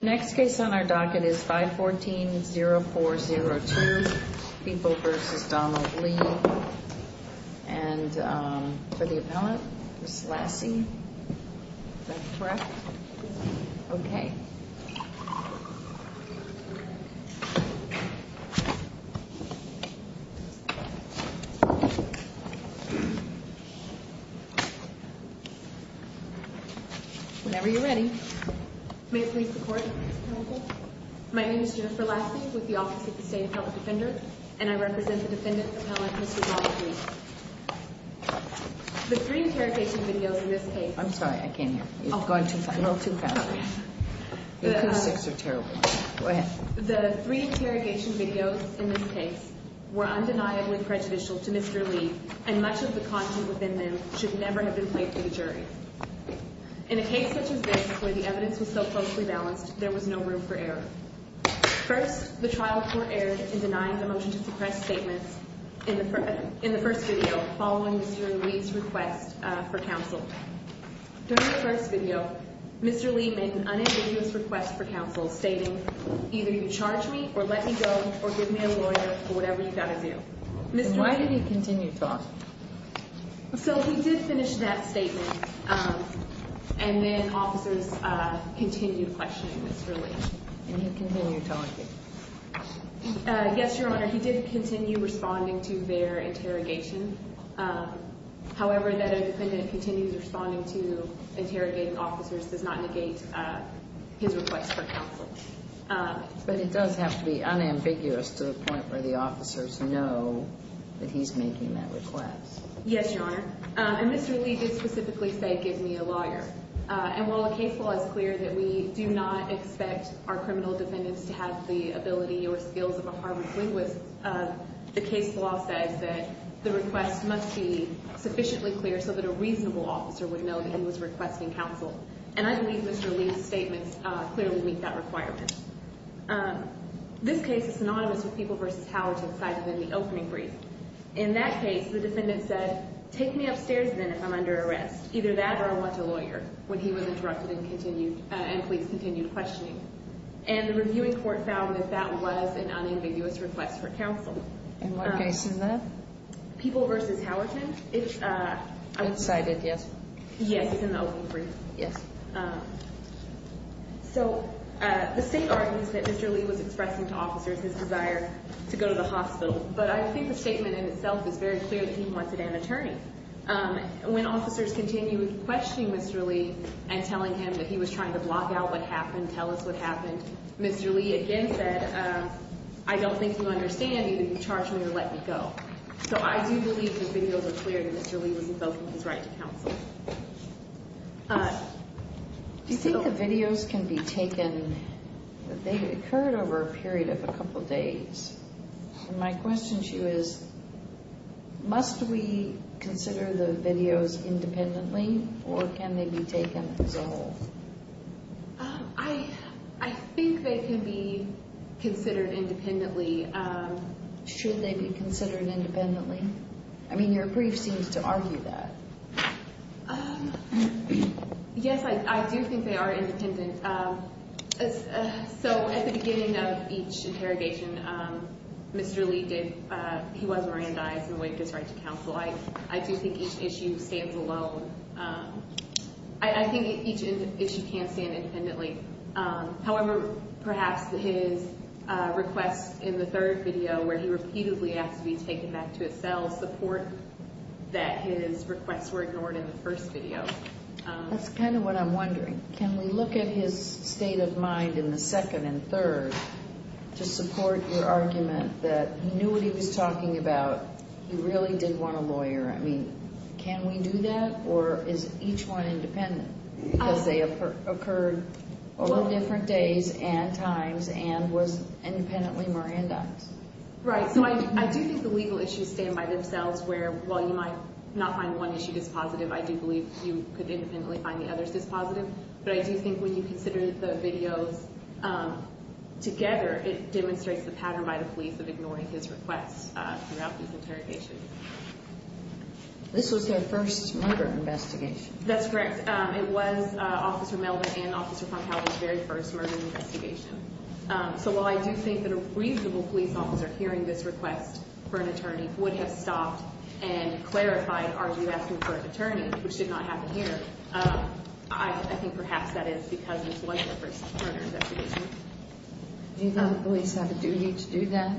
Next case on our docket is 514-0402, People v. Donald Lee. And for the appellant, Ms. Lassie. Is that correct? Yes. Okay. Whenever you're ready. May it please the court. My name is Jennifer Lassie with the Office of the State Appellant Defender. And I represent the Defendant's Appellant, Mr. Donald Lee. The three interrogation videos in this case... I'm sorry, I can't hear. It's going too fast. A little too fast. The acoustics are terrible. Go ahead. The three interrogation videos in this case were undeniably prejudicial to Mr. Lee. And much of the content within them should never have been played to the jury. In a case such as this, where the evidence was so closely balanced, there was no room for error. First, the trials were aired in denying the motion to suppress statements in the first video, following Mr. Lee's request for counsel. During the first video, Mr. Lee made an unambiguous request for counsel, stating, either you charge me or let me go or give me a lawyer or whatever you've got to do. Why did he continue to talk? So he did finish that statement, and then officers continued questioning Mr. Lee. And he continued talking? Yes, Your Honor, he did continue responding to their interrogation. However, that a defendant continues responding to interrogating officers does not negate his request for counsel. But it does have to be unambiguous to the point where the officers know that he's making that request. Yes, Your Honor. And Mr. Lee did specifically say, give me a lawyer. And while the case law is clear that we do not expect our criminal defendants to have the ability or skills of a Harvard linguist, the case law says that the request must be sufficiently clear so that a reasonable officer would know that he was requesting counsel. And I believe Mr. Lee's statements clearly meet that requirement. This case is synonymous with People v. Howerton cited in the opening brief. In that case, the defendant said, take me upstairs then if I'm under arrest. Either that or I want a lawyer, when he was interrupted and police continued questioning. And the reviewing court found that that was an unambiguous request for counsel. In what case is that? People v. Howerton? It's cited, yes. Yes, it's in the opening brief. Yes. So the state argues that Mr. Lee was expressing to officers his desire to go to the hospital. But I think the statement in itself is very clear that he wanted an attorney. When officers continued questioning Mr. Lee and telling him that he was trying to block out what happened, tell us what happened, Mr. Lee again said, I don't think you understand, either you charge me or let me go. So I do believe the videos are clear that Mr. Lee was invoking his right to counsel. Do you think the videos can be taken? They occurred over a period of a couple days. My question to you is, must we consider the videos independently or can they be taken as a whole? I think they can be considered independently. Should they be considered independently? I mean, your brief seems to argue that. Yes, I do think they are independent. So at the beginning of each interrogation, Mr. Lee did, he was Mirandized in the wake of his right to counsel. I do think each issue stands alone. I think each issue can stand independently. However, perhaps his requests in the third video where he repeatedly asked to be taken back to his cell support that his requests were ignored in the first video. That's kind of what I'm wondering. Can we look at his state of mind in the second and third to support your argument that he knew what he was talking about, he really did want a lawyer. I mean, can we do that or is each one independent? Because they occurred over different days and times and was independently Mirandized. Right. So I do think the legal issues stand by themselves where while you might not find one issue dispositive, I do believe you could independently find the others dispositive. But I do think when you consider the videos together, it demonstrates the pattern by the police of ignoring his requests throughout these interrogations. This was their first murder investigation. That's correct. It was Officer Melvin and Officer Fronthal's very first murder investigation. So while I do think that a reasonable police officer hearing this request for an attorney would have stopped and clarified are you asking for an attorney, which did not happen here. I think perhaps that is because this was their first murder investigation. Do you think the police have a duty to do that?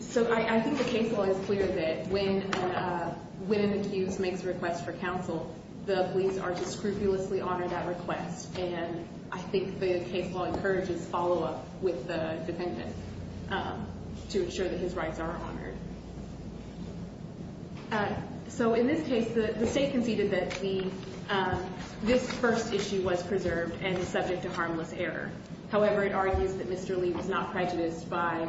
So I think the case law is clear that when an accused makes a request for counsel, the police are to scrupulously honor that request. And I think the case law encourages follow-up with the defendant to ensure that his rights are honored. So in this case, the state conceded that this first issue was preserved and is subject to harmless error. However, it argues that Mr. Lee was not prejudiced by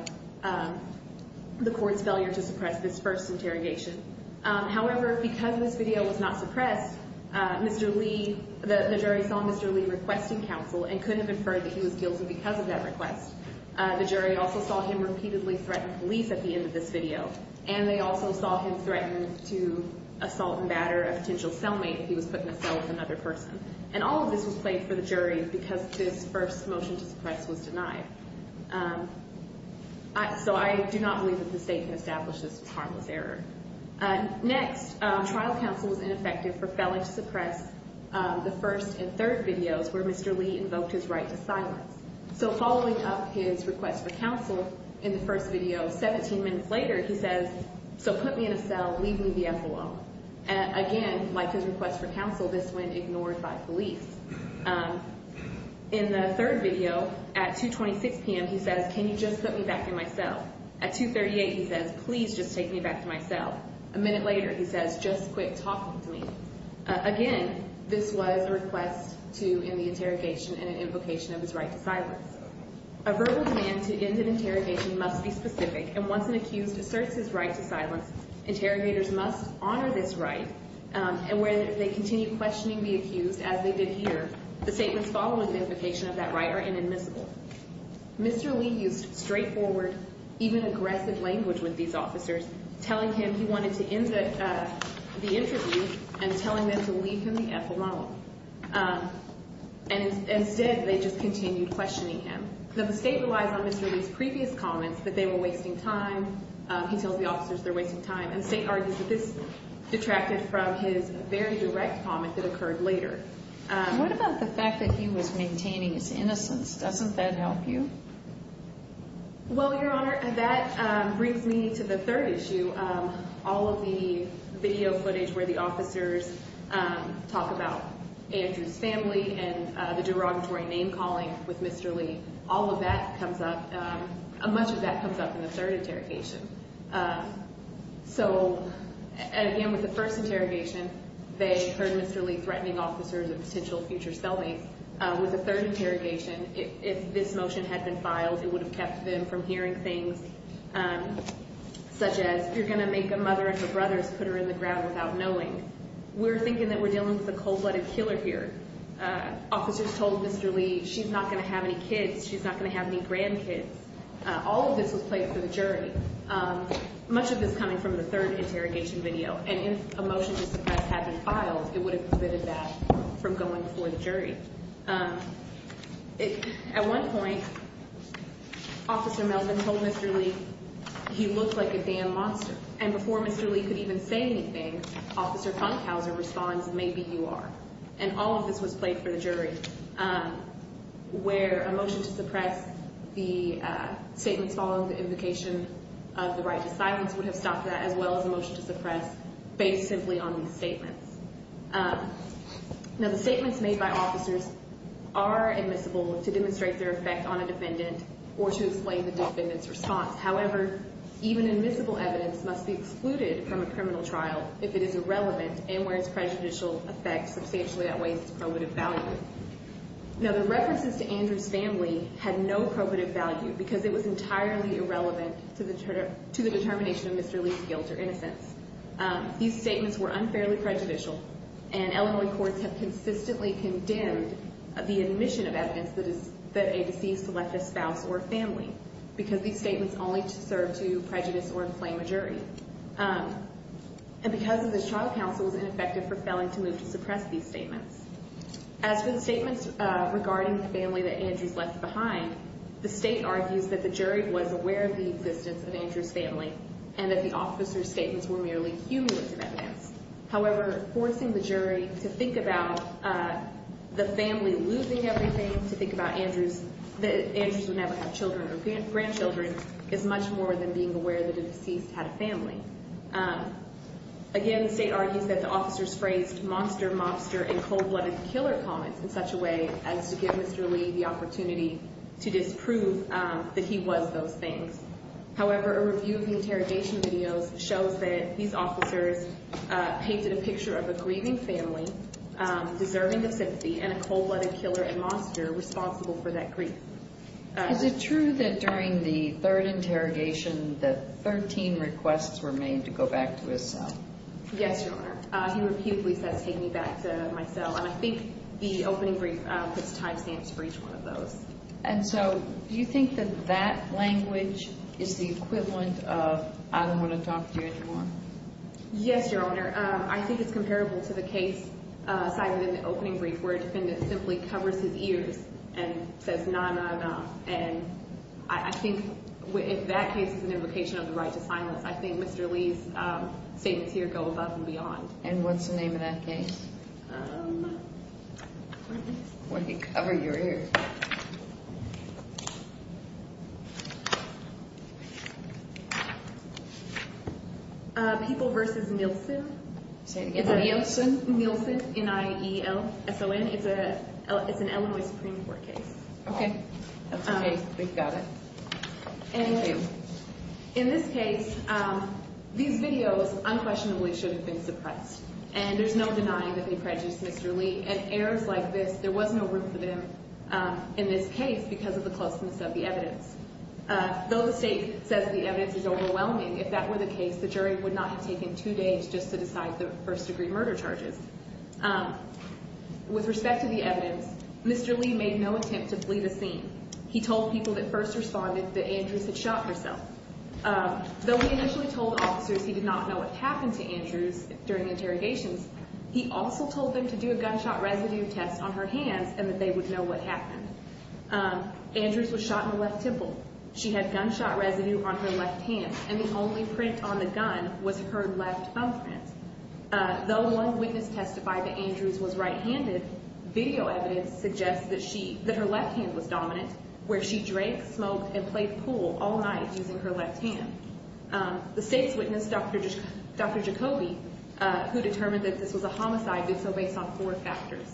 the court's failure to suppress this first interrogation. However, because this video was not suppressed, Mr. Lee, the jury saw Mr. Lee requesting counsel and couldn't have inferred that he was guilty because of that request. The jury also saw him repeatedly threaten police at the end of this video. And they also saw him threaten to assault and batter a potential cellmate if he was put in a cell with another person. And all of this was played for the jury because this first motion to suppress was denied. So I do not believe that the state can establish this was harmless error. Next, trial counsel was ineffective for failing to suppress the first and third videos where Mr. Lee invoked his right to silence. So following up his request for counsel in the first video, 17 minutes later he says, so put me in a cell, leave me the F alone. Again, like his request for counsel, this went ignored by police. In the third video, at 2.26 p.m., he says, can you just put me back in my cell? At 2.38, he says, please just take me back to my cell. A minute later, he says, just quit talking to me. Again, this was a request to end the interrogation and an invocation of his right to silence. A verbal demand to end an interrogation must be specific. And once an accused asserts his right to silence, interrogators must honor this right. And where they continue questioning the accused, as they did here, the statements following the invocation of that right are inadmissible. Mr. Lee used straightforward, even aggressive language with these officers, telling him he wanted to end the interview and telling them to leave him the F alone. And instead, they just continued questioning him. The mistake relies on Mr. Lee's previous comments that they were wasting time. He tells the officers they're wasting time. And State argues that this detracted from his very direct comment that occurred later. What about the fact that he was maintaining his innocence? Doesn't that help you? Well, Your Honor, that brings me to the third issue. All of the video footage where the officers talk about Andrew's family and the derogatory name calling with Mr. Lee, all of that comes up, much of that comes up in the third interrogation. So, again, with the first interrogation, they heard Mr. Lee threatening officers of potential future spellmates. With the third interrogation, if this motion had been filed, it would have kept them from hearing things such as, you're going to make a mother and her brothers put her in the ground without knowing. We're thinking that we're dealing with a cold-blooded killer here. Officers told Mr. Lee she's not going to have any kids, she's not going to have any grandkids. All of this was played for the jury. Much of this coming from the third interrogation video. And if a motion to suppress had been filed, it would have prevented that from going before the jury. At one point, Officer Melvin told Mr. Lee he looked like a damned monster. And before Mr. Lee could even say anything, Officer Funkhauser responds, maybe you are. And all of this was played for the jury. Where a motion to suppress the statements following the invocation of the right to silence would have stopped that, as well as a motion to suppress based simply on these statements. Now, the statements made by officers are admissible to demonstrate their effect on a defendant or to explain the defendant's response. However, even admissible evidence must be excluded from a criminal trial if it is irrelevant and where its prejudicial effect substantially outweighs its probative value. Now, the references to Andrew's family had no probative value because it was entirely irrelevant to the determination of Mr. Lee's guilt or innocence. These statements were unfairly prejudicial, and Illinois courts have consistently condemned the admission of evidence that a deceased left a spouse or family because these statements only serve to prejudice or inflame a jury. And because of this, trial counsel was ineffective for failing to move to suppress these statements. As for the statements regarding the family that Andrew's left behind, the state argues that the jury was aware of the existence of Andrew's family and that the officer's statements were merely humiliating evidence. However, forcing the jury to think about the family losing everything, to think that Andrews would never have children or grandchildren, is much more than being aware that a deceased had a family. Again, the state argues that the officers phrased monster, mobster, and cold-blooded killer comments in such a way as to give Mr. Lee the opportunity to disprove that he was those things. However, a review of the interrogation videos shows that these officers painted a picture of a grieving family deserving of sympathy and a cold-blooded killer and monster responsible for that grief. Is it true that during the third interrogation that 13 requests were made to go back to his cell? Yes, Your Honor. He repeatedly says, take me back to my cell. And I think the opening brief puts time stamps for each one of those. And so do you think that that language is the equivalent of, I don't want to talk to you anymore? Yes, Your Honor. I think it's comparable to the case cited in the opening brief, where a defendant simply covers his ears and says, nah, nah, nah. And I think if that case is an invocation of the right to silence, I think Mr. Lee's statements here go above and beyond. And what's the name of that case? Where he covered your ears. People v. Nielsen. Nielsen, N-I-E-L-S-O-N. It's an Illinois Supreme Court case. Okay. That's okay. They've got it. And in this case, these videos unquestionably should have been suppressed. And there's no denying that they prejudiced Mr. Lee. And errors like this, there was no room for them in this case because of the closeness of the evidence. Though the state says the evidence is overwhelming, if that were the case, the jury would not have taken two days just to decide the first-degree murder charges. With respect to the evidence, Mr. Lee made no attempt to bleed a scene. He told people that first responded that Andrews had shot herself. Though he initially told officers he did not know what happened to Andrews during interrogations, he also told them to do a gunshot residue test on her hands and that they would know what happened. Andrews was shot in the left temple. She had gunshot residue on her left hand, and the only print on the gun was her left thumbprint. Though one witness testified that Andrews was right-handed, video evidence suggests that her left hand was dominant, where she drank, smoked, and played pool all night using her left hand. The state's witness, Dr. Jacoby, who determined that this was a homicide, did so based on four factors.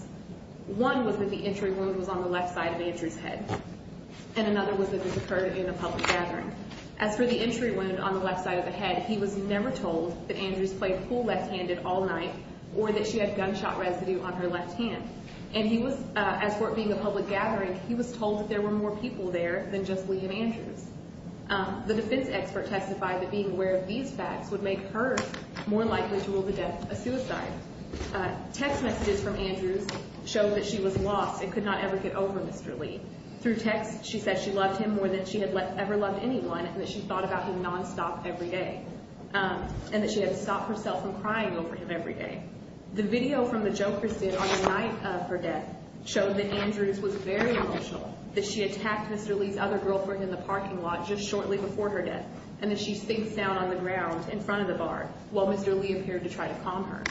One was that the entry wound was on the left side of Andrews' head, and another was that this occurred in a public gathering. As for the entry wound on the left side of the head, he was never told that Andrews played pool left-handed all night or that she had gunshot residue on her left hand. And he was, as for it being a public gathering, he was told that there were more people there than just Lee and Andrews. The defense expert testified that being aware of these facts would make her more likely to rule the death a suicide. Text messages from Andrews showed that she was lost and could not ever get over Mr. Lee. Through text, she said she loved him more than she had ever loved anyone and that she thought about him nonstop every day and that she had to stop herself from crying over him every day. The video from the Jokers did on the night of her death showed that Andrews was very emotional, that she attacked Mr. Lee's other girlfriend in the parking lot just shortly before her death, and that she sinks down on the ground in front of the bar while Mr. Lee appeared to try to calm her.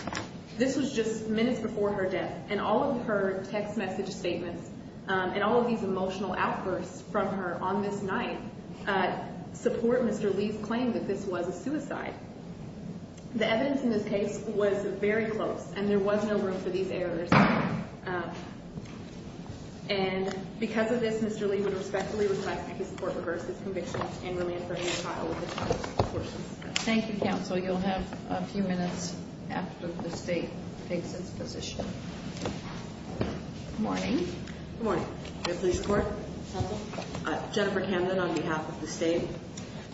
This was just minutes before her death, and all of her text message statements and all of these emotional outbursts from her on this night support Mr. Lee's claim that this was a suicide. The evidence in this case was very close, and there was no room for these errors. And because of this, Mr. Lee would respectfully request that this court reverse its convictions and release her from the trial with the charges of abortion. Thank you, counsel. You'll have a few minutes after the state takes its position. Good morning. Good morning. Good police report. Jennifer Camden on behalf of the state.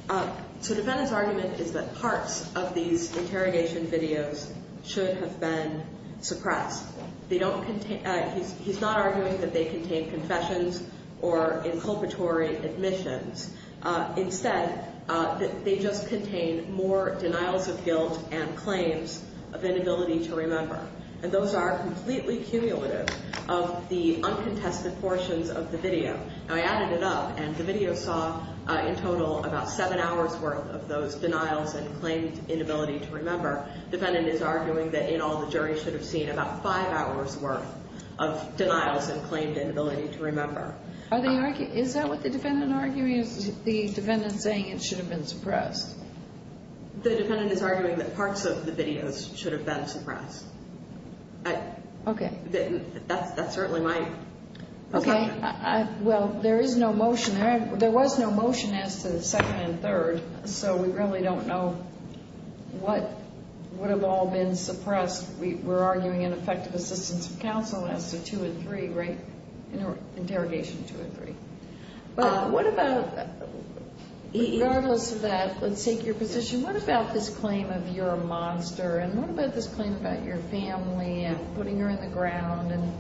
So the defendant's argument is that parts of these interrogation videos should have been suppressed He's not arguing that they contain confessions or inculpatory admissions. Instead, they just contain more denials of guilt and claims of inability to remember. And those are completely cumulative of the uncontested portions of the video. Now, I added it up, and the video saw in total about seven hours' worth of those denials and claimed inability to remember. The defendant is arguing that in all, the jury should have seen about five hours' worth of denials and claimed inability to remember. Is that what the defendant is arguing? Is the defendant saying it should have been suppressed? The defendant is arguing that parts of the videos should have been suppressed. Okay. That certainly might. Okay. Well, there is no motion. There was no motion as to the second and third, so we really don't know what would have all been suppressed. We're arguing an effective assistance of counsel as to two and three, interrogation two and three. Regardless of that, let's take your position. What about this claim of you're a monster? And what about this claim about your family and putting her in the ground? And,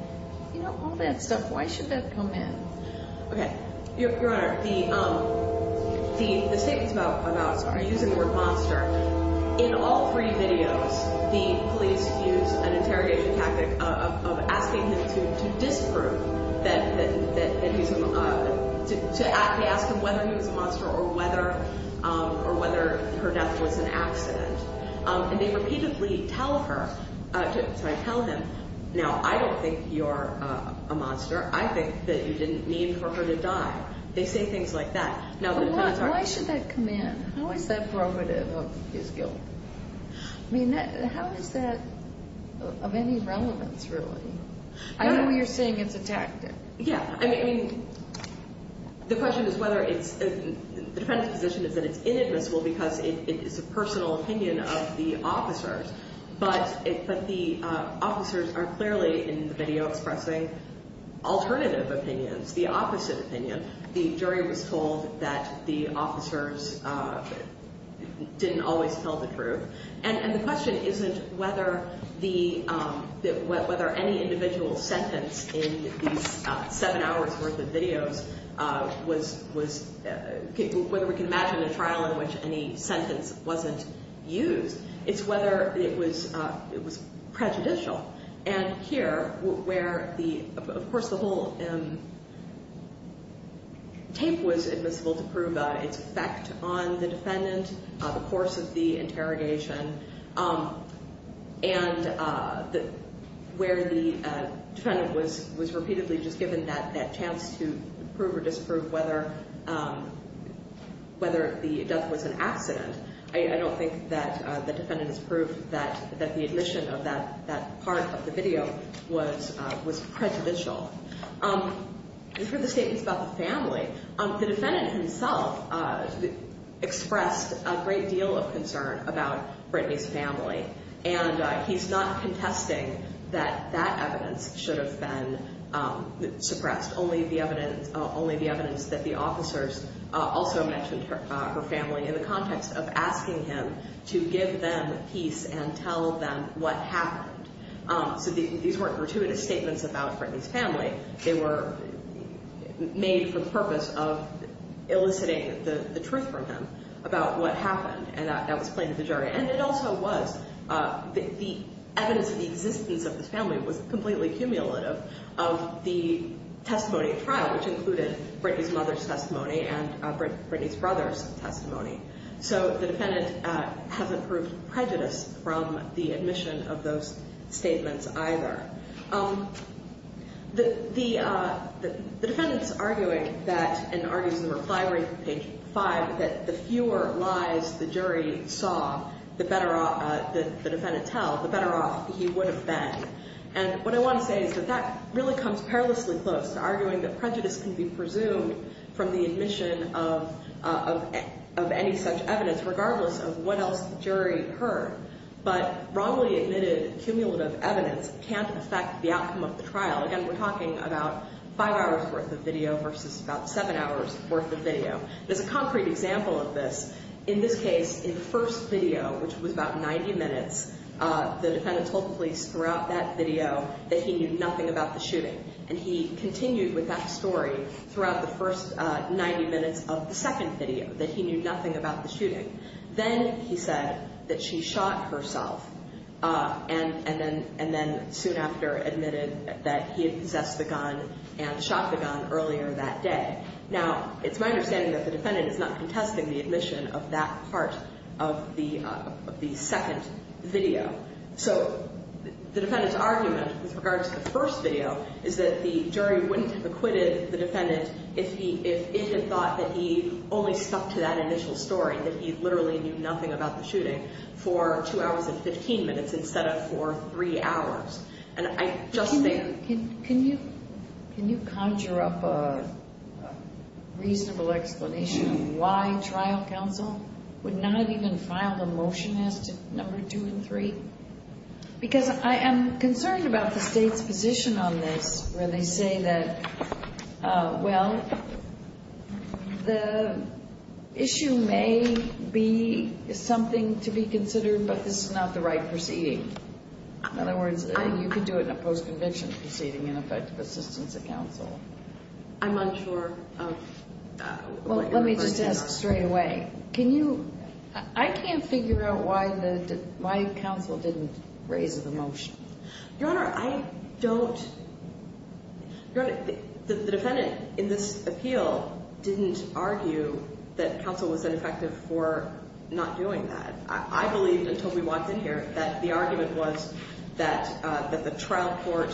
you know, all that stuff, why should that come in? Okay. Your Honor, the statements about us are using the word monster. In all three videos, the police use an interrogation tactic of asking him to disprove that he's a monster. They ask him whether he was a monster or whether her death was an accident. And they repeatedly tell him, now, I don't think you're a monster. I think that you didn't mean for her to die. They say things like that. Why should that come in? How is that provocative of his guilt? I mean, how is that of any relevance, really? I know you're saying it's a tactic. Yeah. I mean, the question is whether it's – the defendant's position is that it's inadmissible because it is a personal opinion of the officers. But the officers are clearly, in the video, expressing alternative opinions, the opposite opinion. The jury was told that the officers didn't always tell the truth. And the question isn't whether any individual sentence in these seven hours' worth of videos was – whether we can imagine a trial in which any sentence wasn't used. It's whether it was prejudicial. And here, where the – of course, the whole tape was admissible to prove its effect on the defendant, the course of the interrogation, and where the defendant was repeatedly just given that chance to prove or disapprove whether the death was an accident, I don't think that the defendant has proved that the admission of that part of the video was prejudicial. And for the statements about the family, the defendant himself expressed a great deal of concern about Brittany's family. And he's not contesting that that evidence should have been suppressed, only the evidence that the officers also mentioned her family in the context of asking him to give them peace and tell them what happened. So these weren't gratuitous statements about Brittany's family. They were made for the purpose of eliciting the truth from him about what happened. And it also was – the evidence of the existence of this family was completely cumulative of the testimony at trial, which included Brittany's mother's testimony and Brittany's brother's testimony. So the defendant hasn't proved prejudice from the admission of those statements either. The defendant is arguing that – and argues in the reply reading from page 5 that the fewer lies the jury saw the better off – the defendant tell, the better off he would have been. And what I want to say is that that really comes perilously close to arguing that prejudice can be presumed from the admission of any such evidence, regardless of what else the jury heard. But wrongly admitted cumulative evidence can't affect the outcome of the trial. Again, we're talking about five hours' worth of video versus about seven hours' worth of video. There's a concrete example of this. In this case, in the first video, which was about 90 minutes, the defendant told the police throughout that video that he knew nothing about the shooting. And he continued with that story throughout the first 90 minutes of the second video, that he knew nothing about the shooting. Then he said that she shot herself and then soon after admitted that he had possessed the gun and shot the gun earlier that day. Now, it's my understanding that the defendant is not contesting the admission of that part of the second video. So the defendant's argument with regard to the first video is that the jury wouldn't have acquitted the defendant if it had thought that he only stuck to that initial story, that he literally knew nothing about the shooting, for two hours and 15 minutes instead of for three hours. Can you conjure up a reasonable explanation of why trial counsel would not even file a motion as to number two and three? Because I am concerned about the state's position on this, where they say that, well, the issue may be something to be considered, but this is not the right proceeding. In other words, you could do it in a post-conviction proceeding in effect of assistance to counsel. I'm unsure of what you're referring to. Well, let me just ask straight away. Can you – I can't figure out why the – why counsel didn't raise the motion. Your Honor, I don't – Your Honor, the defendant in this appeal didn't argue that counsel was ineffective for not doing that. I believed until we walked in here that the argument was that the trial court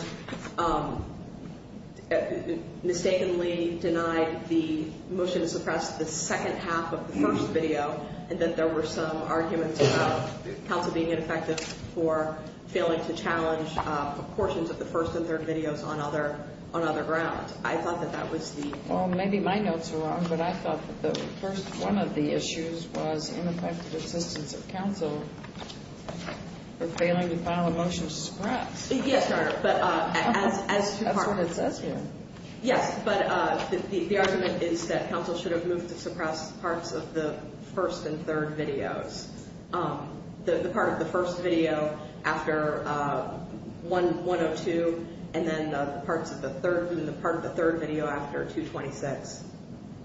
mistakenly denied the motion to suppress the second half of the first video and that there were some arguments about counsel being ineffective for failing to challenge portions of the first and third videos on other grounds. I thought that that was the – Counsel for failing to file a motion to suppress. Yes, Your Honor, but as – That's what it says here. Yes, but the argument is that counsel should have moved to suppress parts of the first and third videos. The part of the first video after 102 and then the parts of the third – the part of the third video after 226.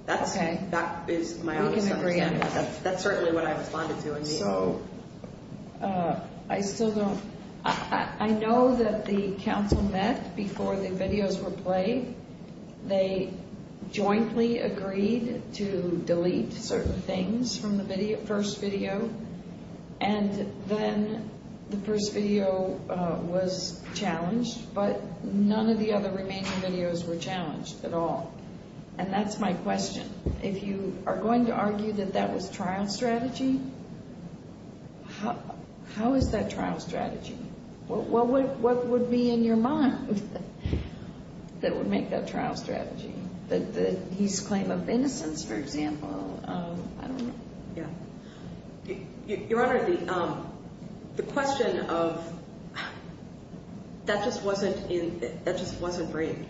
Okay. That is my honest understanding. We can agree on that. That's certainly what I responded to in the appeal. So, I still don't – I know that the counsel met before the videos were played. They jointly agreed to delete certain things from the first video, and then the first video was challenged, but none of the other remaining videos were challenged at all. And that's my question. If you are going to argue that that was trial strategy, how is that trial strategy? What would be in your mind that would make that trial strategy? That he's claim of innocence, for example, I don't know. Your Honor, the question of – that just wasn't briefed,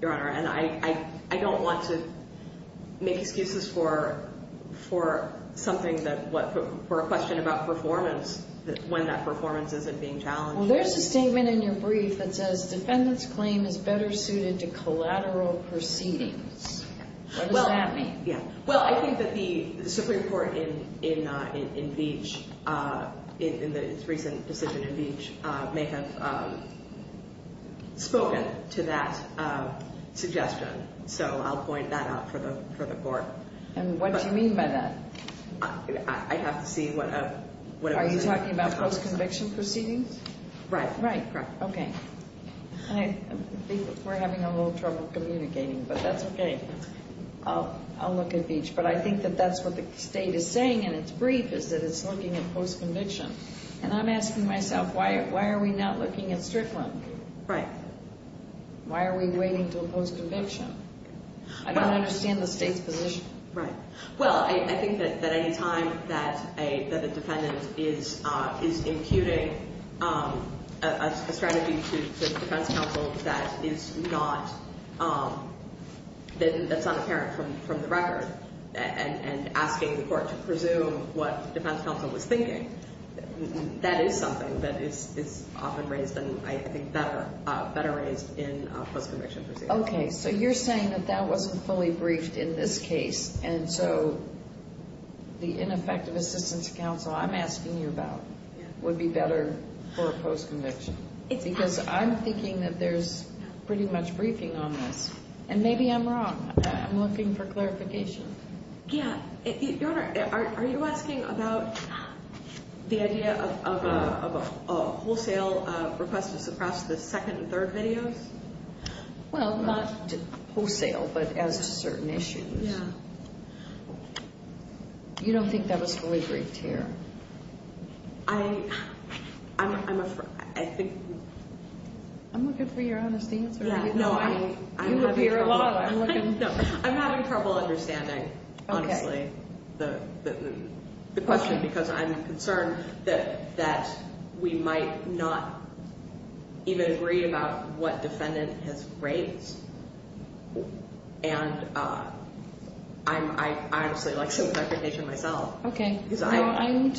Your Honor, and I don't want to make excuses for something that – for a question about performance when that performance isn't being challenged. Well, there's a statement in your brief that says defendants' claim is better suited to collateral proceedings. What does that mean? Well, I think that the Supreme Court in Beech, in its recent decision in Beech, may have spoken to that suggestion. So, I'll point that out for the Court. And what do you mean by that? I have to see what – Are you talking about post-conviction proceedings? Right. Right, okay. I think we're having a little trouble communicating, but that's okay. I'll look at Beech. But I think that that's what the State is saying in its brief, is that it's looking at post-conviction. And I'm asking myself, why are we not looking at Strickland? Right. Why are we waiting until post-conviction? I don't understand the State's position. Right. Well, I think that any time that a defendant is imputing a strategy to the defense counsel that is not – that's not apparent from the record, and asking the court to presume what the defense counsel was thinking, that is something that is often raised, and I think better raised in post-conviction proceedings. Okay. So you're saying that that wasn't fully briefed in this case, and so the ineffective assistance counsel I'm asking you about would be better for a post-conviction? Because I'm thinking that there's pretty much briefing on this. And maybe I'm wrong. I'm looking for clarification. Yeah. Your Honor, are you asking about the idea of a wholesale request to suppress the second and third videos? Well, not wholesale, but as to certain issues. Yeah. You don't think that was fully briefed here? I'm afraid. I'm looking for your honest answer. No, I'm not. You look here a lot. I'm looking. No, I'm having trouble understanding, honestly, the question, because I'm concerned that we might not even agree about what defendant has raised. And I honestly like to look at it myself. Okay. I need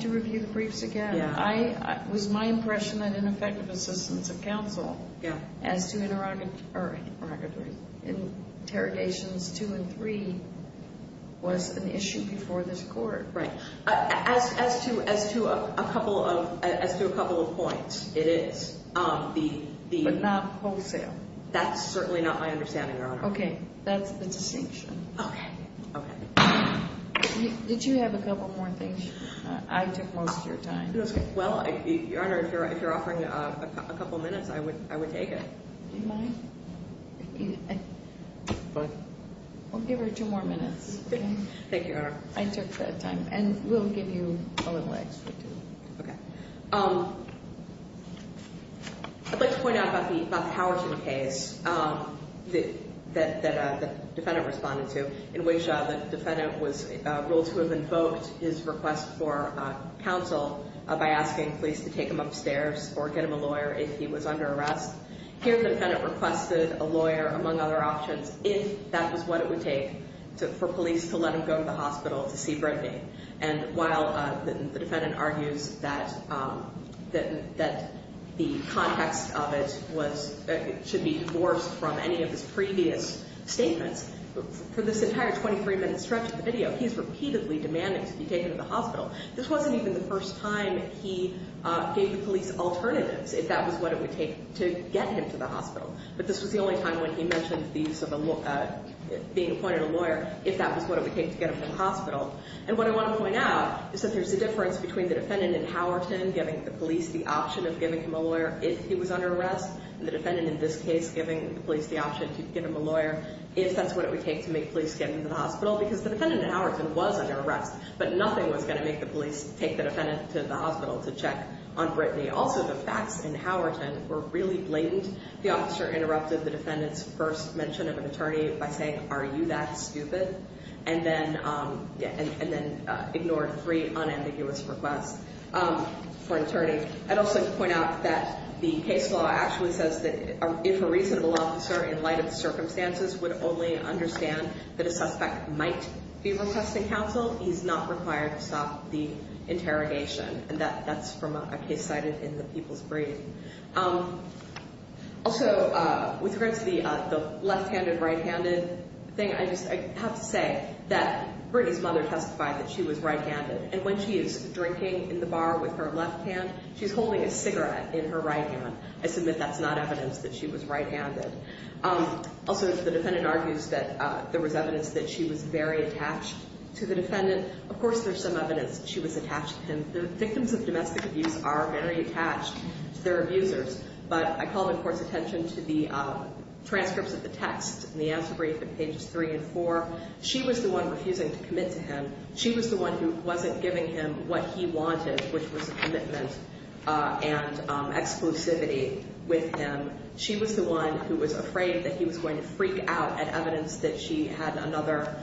to review the briefs again. It was my impression that ineffective assistance of counsel as to interrogations two and three was an issue before this court. Right. As to a couple of points, it is. But not wholesale. That's certainly not my understanding, Your Honor. Okay. That's the distinction. Okay. Okay. Did you have a couple more things? I took most of your time. Well, Your Honor, if you're offering a couple minutes, I would take it. Do you mind? We'll give her two more minutes. Thank you, Your Honor. I took the time. And we'll give you a little extra, too. Okay. I'd like to point out about the Howerton case that the defendant responded to, in which the defendant was ruled to have invoked his request for counsel by asking police to take him upstairs or get him a lawyer if he was under arrest. Here, the defendant requested a lawyer, among other options, if that was what it would take for police to let him go to the hospital to see Brittany. And while the defendant argues that the context of it should be divorced from any of his previous statements, for this entire 23-minute stretch of the video, he's repeatedly demanding to be taken to the hospital. This wasn't even the first time he gave the police alternatives, if that was what it would take to get him to the hospital. But this was the only time when he mentioned the use of being appointed a lawyer, if that was what it would take to get him to the hospital. And what I want to point out is that there's a difference between the defendant in Howerton giving the police the option of giving him a lawyer if he was under arrest, and the defendant in this case giving the police the option to give him a lawyer if that's what it would take to make police get him to the hospital, because the defendant in Howerton was under arrest, but nothing was going to make the police take the defendant to the hospital to check on Brittany. Also, the facts in Howerton were really blatant. The officer interrupted the defendant's first mention of an attorney by saying, are you that stupid? And then ignored three unambiguous requests for an attorney. I'd also point out that the case law actually says that if a reasonable officer, in light of the circumstances, would only understand that a suspect might be requesting counsel, he's not required to stop the interrogation. And that's from a case cited in the People's Brief. Also, with regards to the left-handed, right-handed thing, I just have to say that Brittany's mother testified that she was right-handed. And when she is drinking in the bar with her left hand, she's holding a cigarette in her right hand. I submit that's not evidence that she was right-handed. Also, the defendant argues that there was evidence that she was very attached to the defendant. Of course, there's some evidence that she was attached to him. The victims of domestic abuse are very attached to their abusers. But I call the court's attention to the transcripts of the text in the answer brief in pages three and four. She was the one refusing to commit to him. She was the one who wasn't giving him what he wanted, which was a commitment and exclusivity with him. She was the one who was afraid that he was going to freak out at evidence that she had another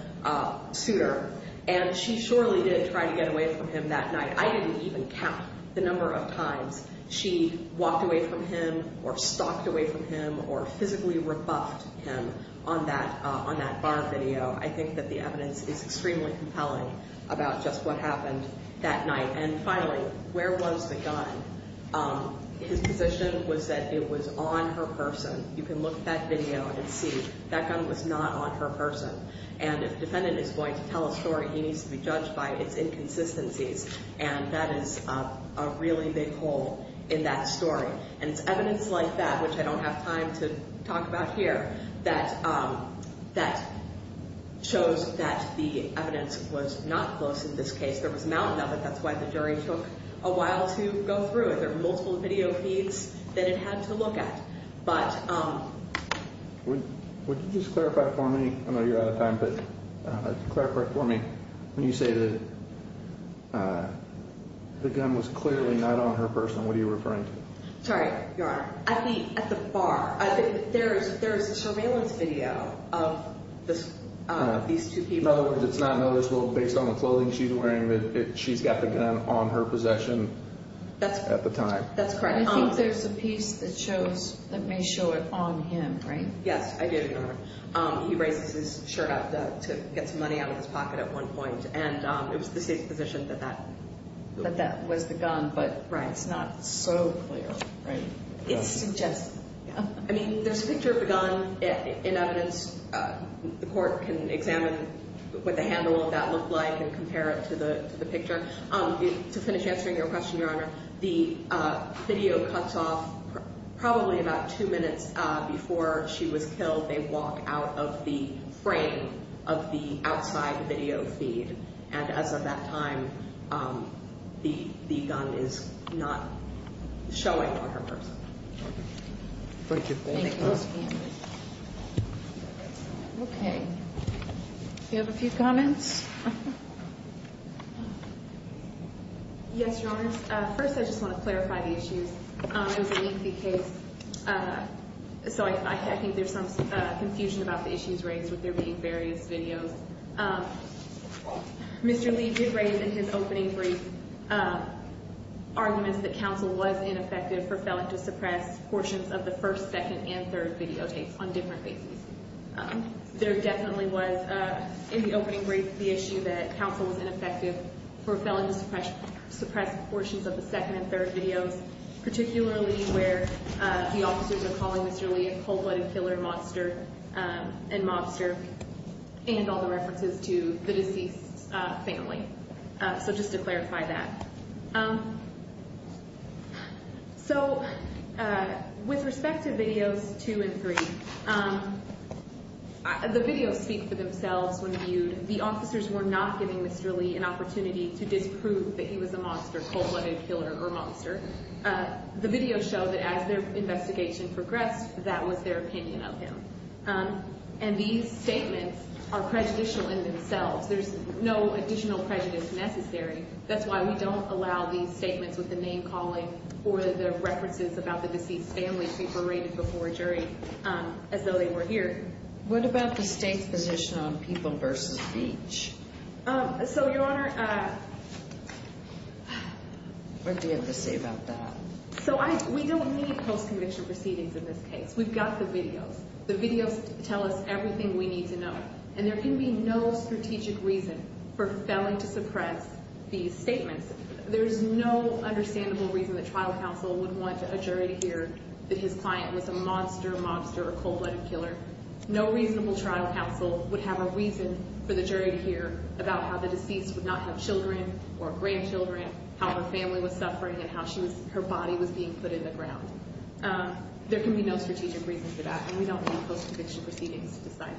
suitor. And she surely didn't try to get away from him that night. I didn't even count the number of times she walked away from him or stalked away from him or physically rebuffed him on that bar video. I think that the evidence is extremely compelling about just what happened that night. And finally, where was the gun? His position was that it was on her person. You can look at that video and see that gun was not on her person. And if the defendant is going to tell a story, he needs to be judged by its inconsistencies. And that is a really big hole in that story. And it's evidence like that, which I don't have time to talk about here, that shows that the evidence was not close in this case. There was a mountain of it. That's why the jury took a while to go through it. There were multiple video feeds that it had to look at. Would you just clarify for me? I know you're out of time, but clarify for me. When you say that the gun was clearly not on her person, what are you referring to? Sorry, Your Honor. At the bar. There is a surveillance video of these two people. In other words, it's not noticeable based on the clothing she's wearing that she's got the gun on her possession at the time. That's correct. I think there's a piece that may show it on him, right? Yes, I did, Your Honor. He raises his shirt up to get some money out of his pocket at one point. And it was the state's position that that was the gun, but it's not so clear. Right. I mean, there's a picture of the gun in evidence. The court can examine what the handle of that looked like and compare it to the picture. To finish answering your question, Your Honor, the video cuts off probably about two minutes before she was killed. They walk out of the frame of the outside video feed. And as of that time, the gun is not showing on her person. Thank you. Thank you. Okay. Do you have a few comments? Yes, Your Honor. First, I just want to clarify the issues. It was a lengthy case, so I think there's some confusion about the issues raised with there being various videos. Mr. Lee did raise in his opening brief arguments that counsel was ineffective for felon to suppress portions of the first, second, and third videotapes on different bases. There definitely was in the opening brief the issue that counsel was ineffective for felon to suppress portions of the second and third videos, particularly where the officers are calling Mr. Lee a cold-blooded killer, monster, and mobster, and all the references to the deceased's family. So just to clarify that. So with respect to videos two and three, the videos speak for themselves when viewed. The officers were not giving Mr. Lee an opportunity to disprove that he was a monster, cold-blooded killer, or monster. The videos show that as their investigation progressed, that was their opinion of him. And these statements are prejudicial in themselves. There's no additional prejudice necessary. That's why we don't allow these statements with the name-calling or the references about the deceased's family to be berated before a jury as though they were here. What about the state's position on people versus speech? So, Your Honor, we don't need post-conviction proceedings in this case. We've got the videos. The videos tell us everything we need to know. And there can be no strategic reason for failing to suppress these statements. There's no understandable reason that trial counsel would want a jury to hear that his client was a monster, mobster, or cold-blooded killer. No reasonable trial counsel would have a reason for the jury to hear about how the deceased would not have children or grandchildren, how her family was suffering, and how her body was being put in the ground. There can be no strategic reason for that, and we don't need post-conviction proceedings to decide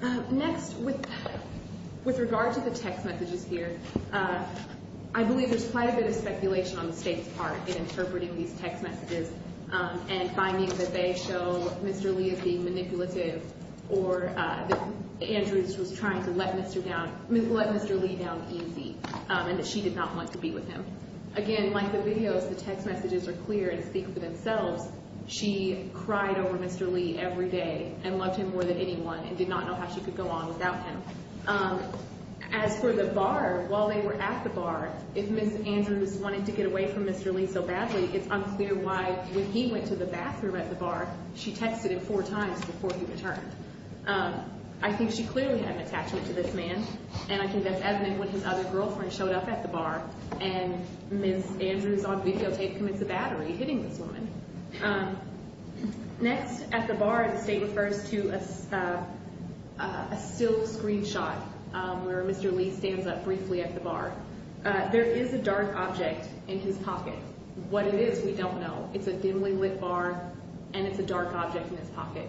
that. Next, with regard to the text messages here, I believe there's quite a bit of speculation on the state's part in interpreting these text messages and finding that they show Mr. Lee as being manipulative or that Andrews was trying to let Mr. Lee down easy and that she did not want to be with him. Again, like the videos, the text messages are clear and speak for themselves. She cried over Mr. Lee every day and loved him more than anyone and did not know how she could go on without him. As for the bar, while they were at the bar, if Ms. Andrews wanted to get away from Mr. Lee so badly, it's unclear why when he went to the bathroom at the bar, she texted him four times before he returned. I think she clearly had an attachment to this man, and I think that's evident when his other girlfriend showed up at the bar and Ms. Andrews on videotape commits a battery, hitting this woman. Next, at the bar, the state refers to a still screenshot where Mr. Lee stands up briefly at the bar. There is a dark object in his pocket. What it is, we don't know. It's a dimly lit bar, and it's a dark object in his pocket.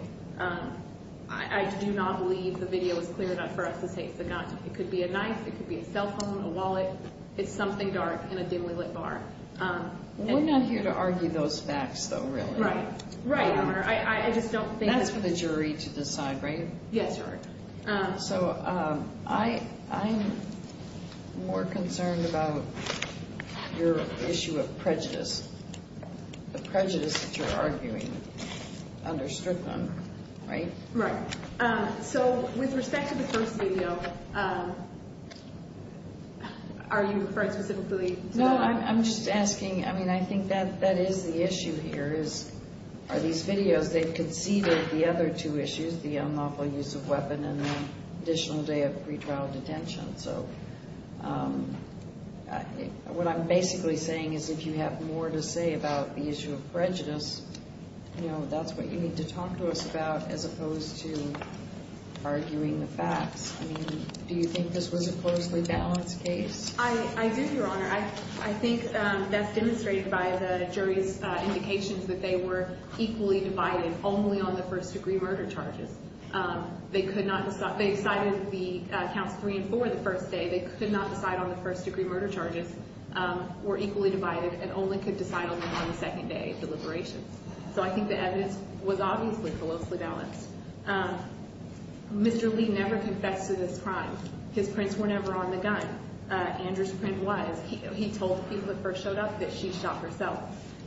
I do not believe the video is clear enough for us to say it's a gun. It could be a knife. It could be a cell phone, a wallet. It's something dark in a dimly lit bar. We're not here to argue those facts, though, really. Right. Right, Your Honor. I just don't think... That's for the jury to decide, right? Yes, Your Honor. So, I'm more concerned about your issue of prejudice. The prejudice that you're arguing under Strickland, right? Right. So, with respect to the first video, are you referring specifically to... No, I'm just asking. I mean, I think that is the issue here. Are these videos, they've conceded the other two issues, the unlawful use of weapon and the additional day of pretrial detention. So, what I'm basically saying is if you have more to say about the issue of prejudice, that's what you need to talk to us about as opposed to arguing the facts. I mean, do you think this was a closely balanced case? I do, Your Honor. I think that's demonstrated by the jury's indications that they were equally divided only on the first degree murder charges. They decided the counts three and four the first day. They could not decide on the first degree murder charges, were equally divided, and only could decide on them on the second day deliberations. So, I think the evidence was obviously closely balanced. Mr. Lee never confessed to this crime. His prints were never on the gun. Andrew's print was. He told people that first showed up that she shot herself.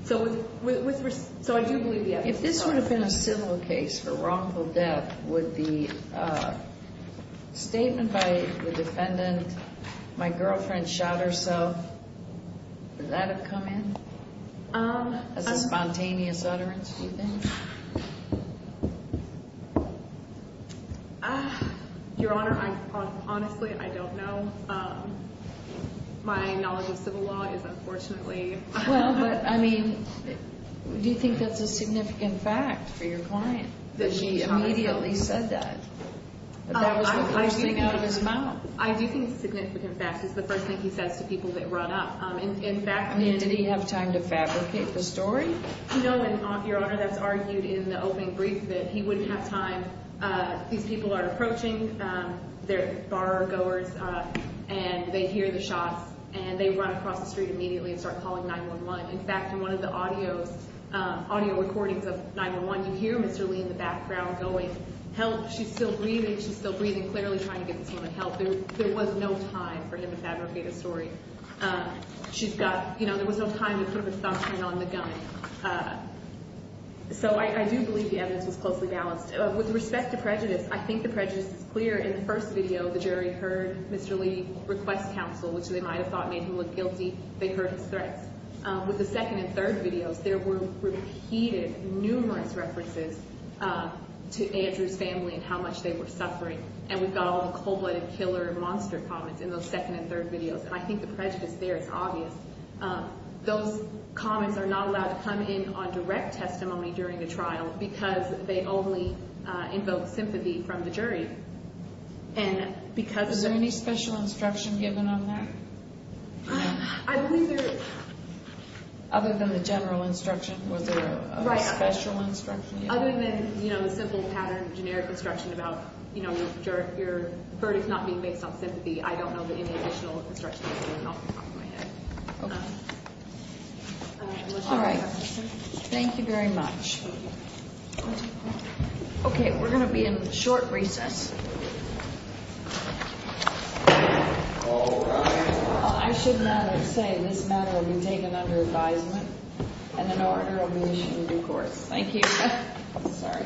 So, I do believe the evidence was close. If this would have been a civil case for wrongful death, would the statement by the defendant, my girlfriend shot herself, would that have come in as a spontaneous utterance, do you think? Your Honor, honestly, I don't know. My knowledge of civil law is unfortunately... Well, but I mean, do you think that's a significant fact for your client that she immediately said that? That was the first thing out of his mouth. I do think it's a significant fact. It's the first thing he says to people that run up. In fact, I mean... Did he have time to fabricate the story? You know, Your Honor, that's argued in the opening brief that he wouldn't have time. These people are approaching, they're bar goers, and they hear the shots, and they run across the street immediately and start calling 911. In fact, in one of the audio recordings of 911, you hear Mr. Lee in the background going, help, she's still breathing, she's still breathing, clearly trying to get this woman help. There was no time for him to fabricate a story. She's got, you know, there was no time to put her thumbprint on the gun. So I do believe the evidence was closely balanced. With respect to prejudice, I think the prejudice is clear. In the first video, the jury heard Mr. Lee request counsel, which they might have thought made him look guilty. They heard his threats. With the second and third videos, there were repeated, numerous references to Andrew's family and how much they were suffering. And we've got all the cold-blooded killer monster comments in those second and third videos. And I think the prejudice there is obvious. Those comments are not allowed to come in on direct testimony during the trial because they only invoke sympathy from the jury. And because of... Is there any special instruction given on that? I believe there is. Other than the general instruction, was there a special instruction? Other than, you know, the simple pattern, generic instruction about, you know, your verdict not being based on sympathy, I don't know that any additional instruction was given off the top of my head. Okay. All right. Thank you very much. Okay, we're going to be in short recess. I should rather say this matter will be taken under advisement and in order of mission due course. Thank you. Sorry.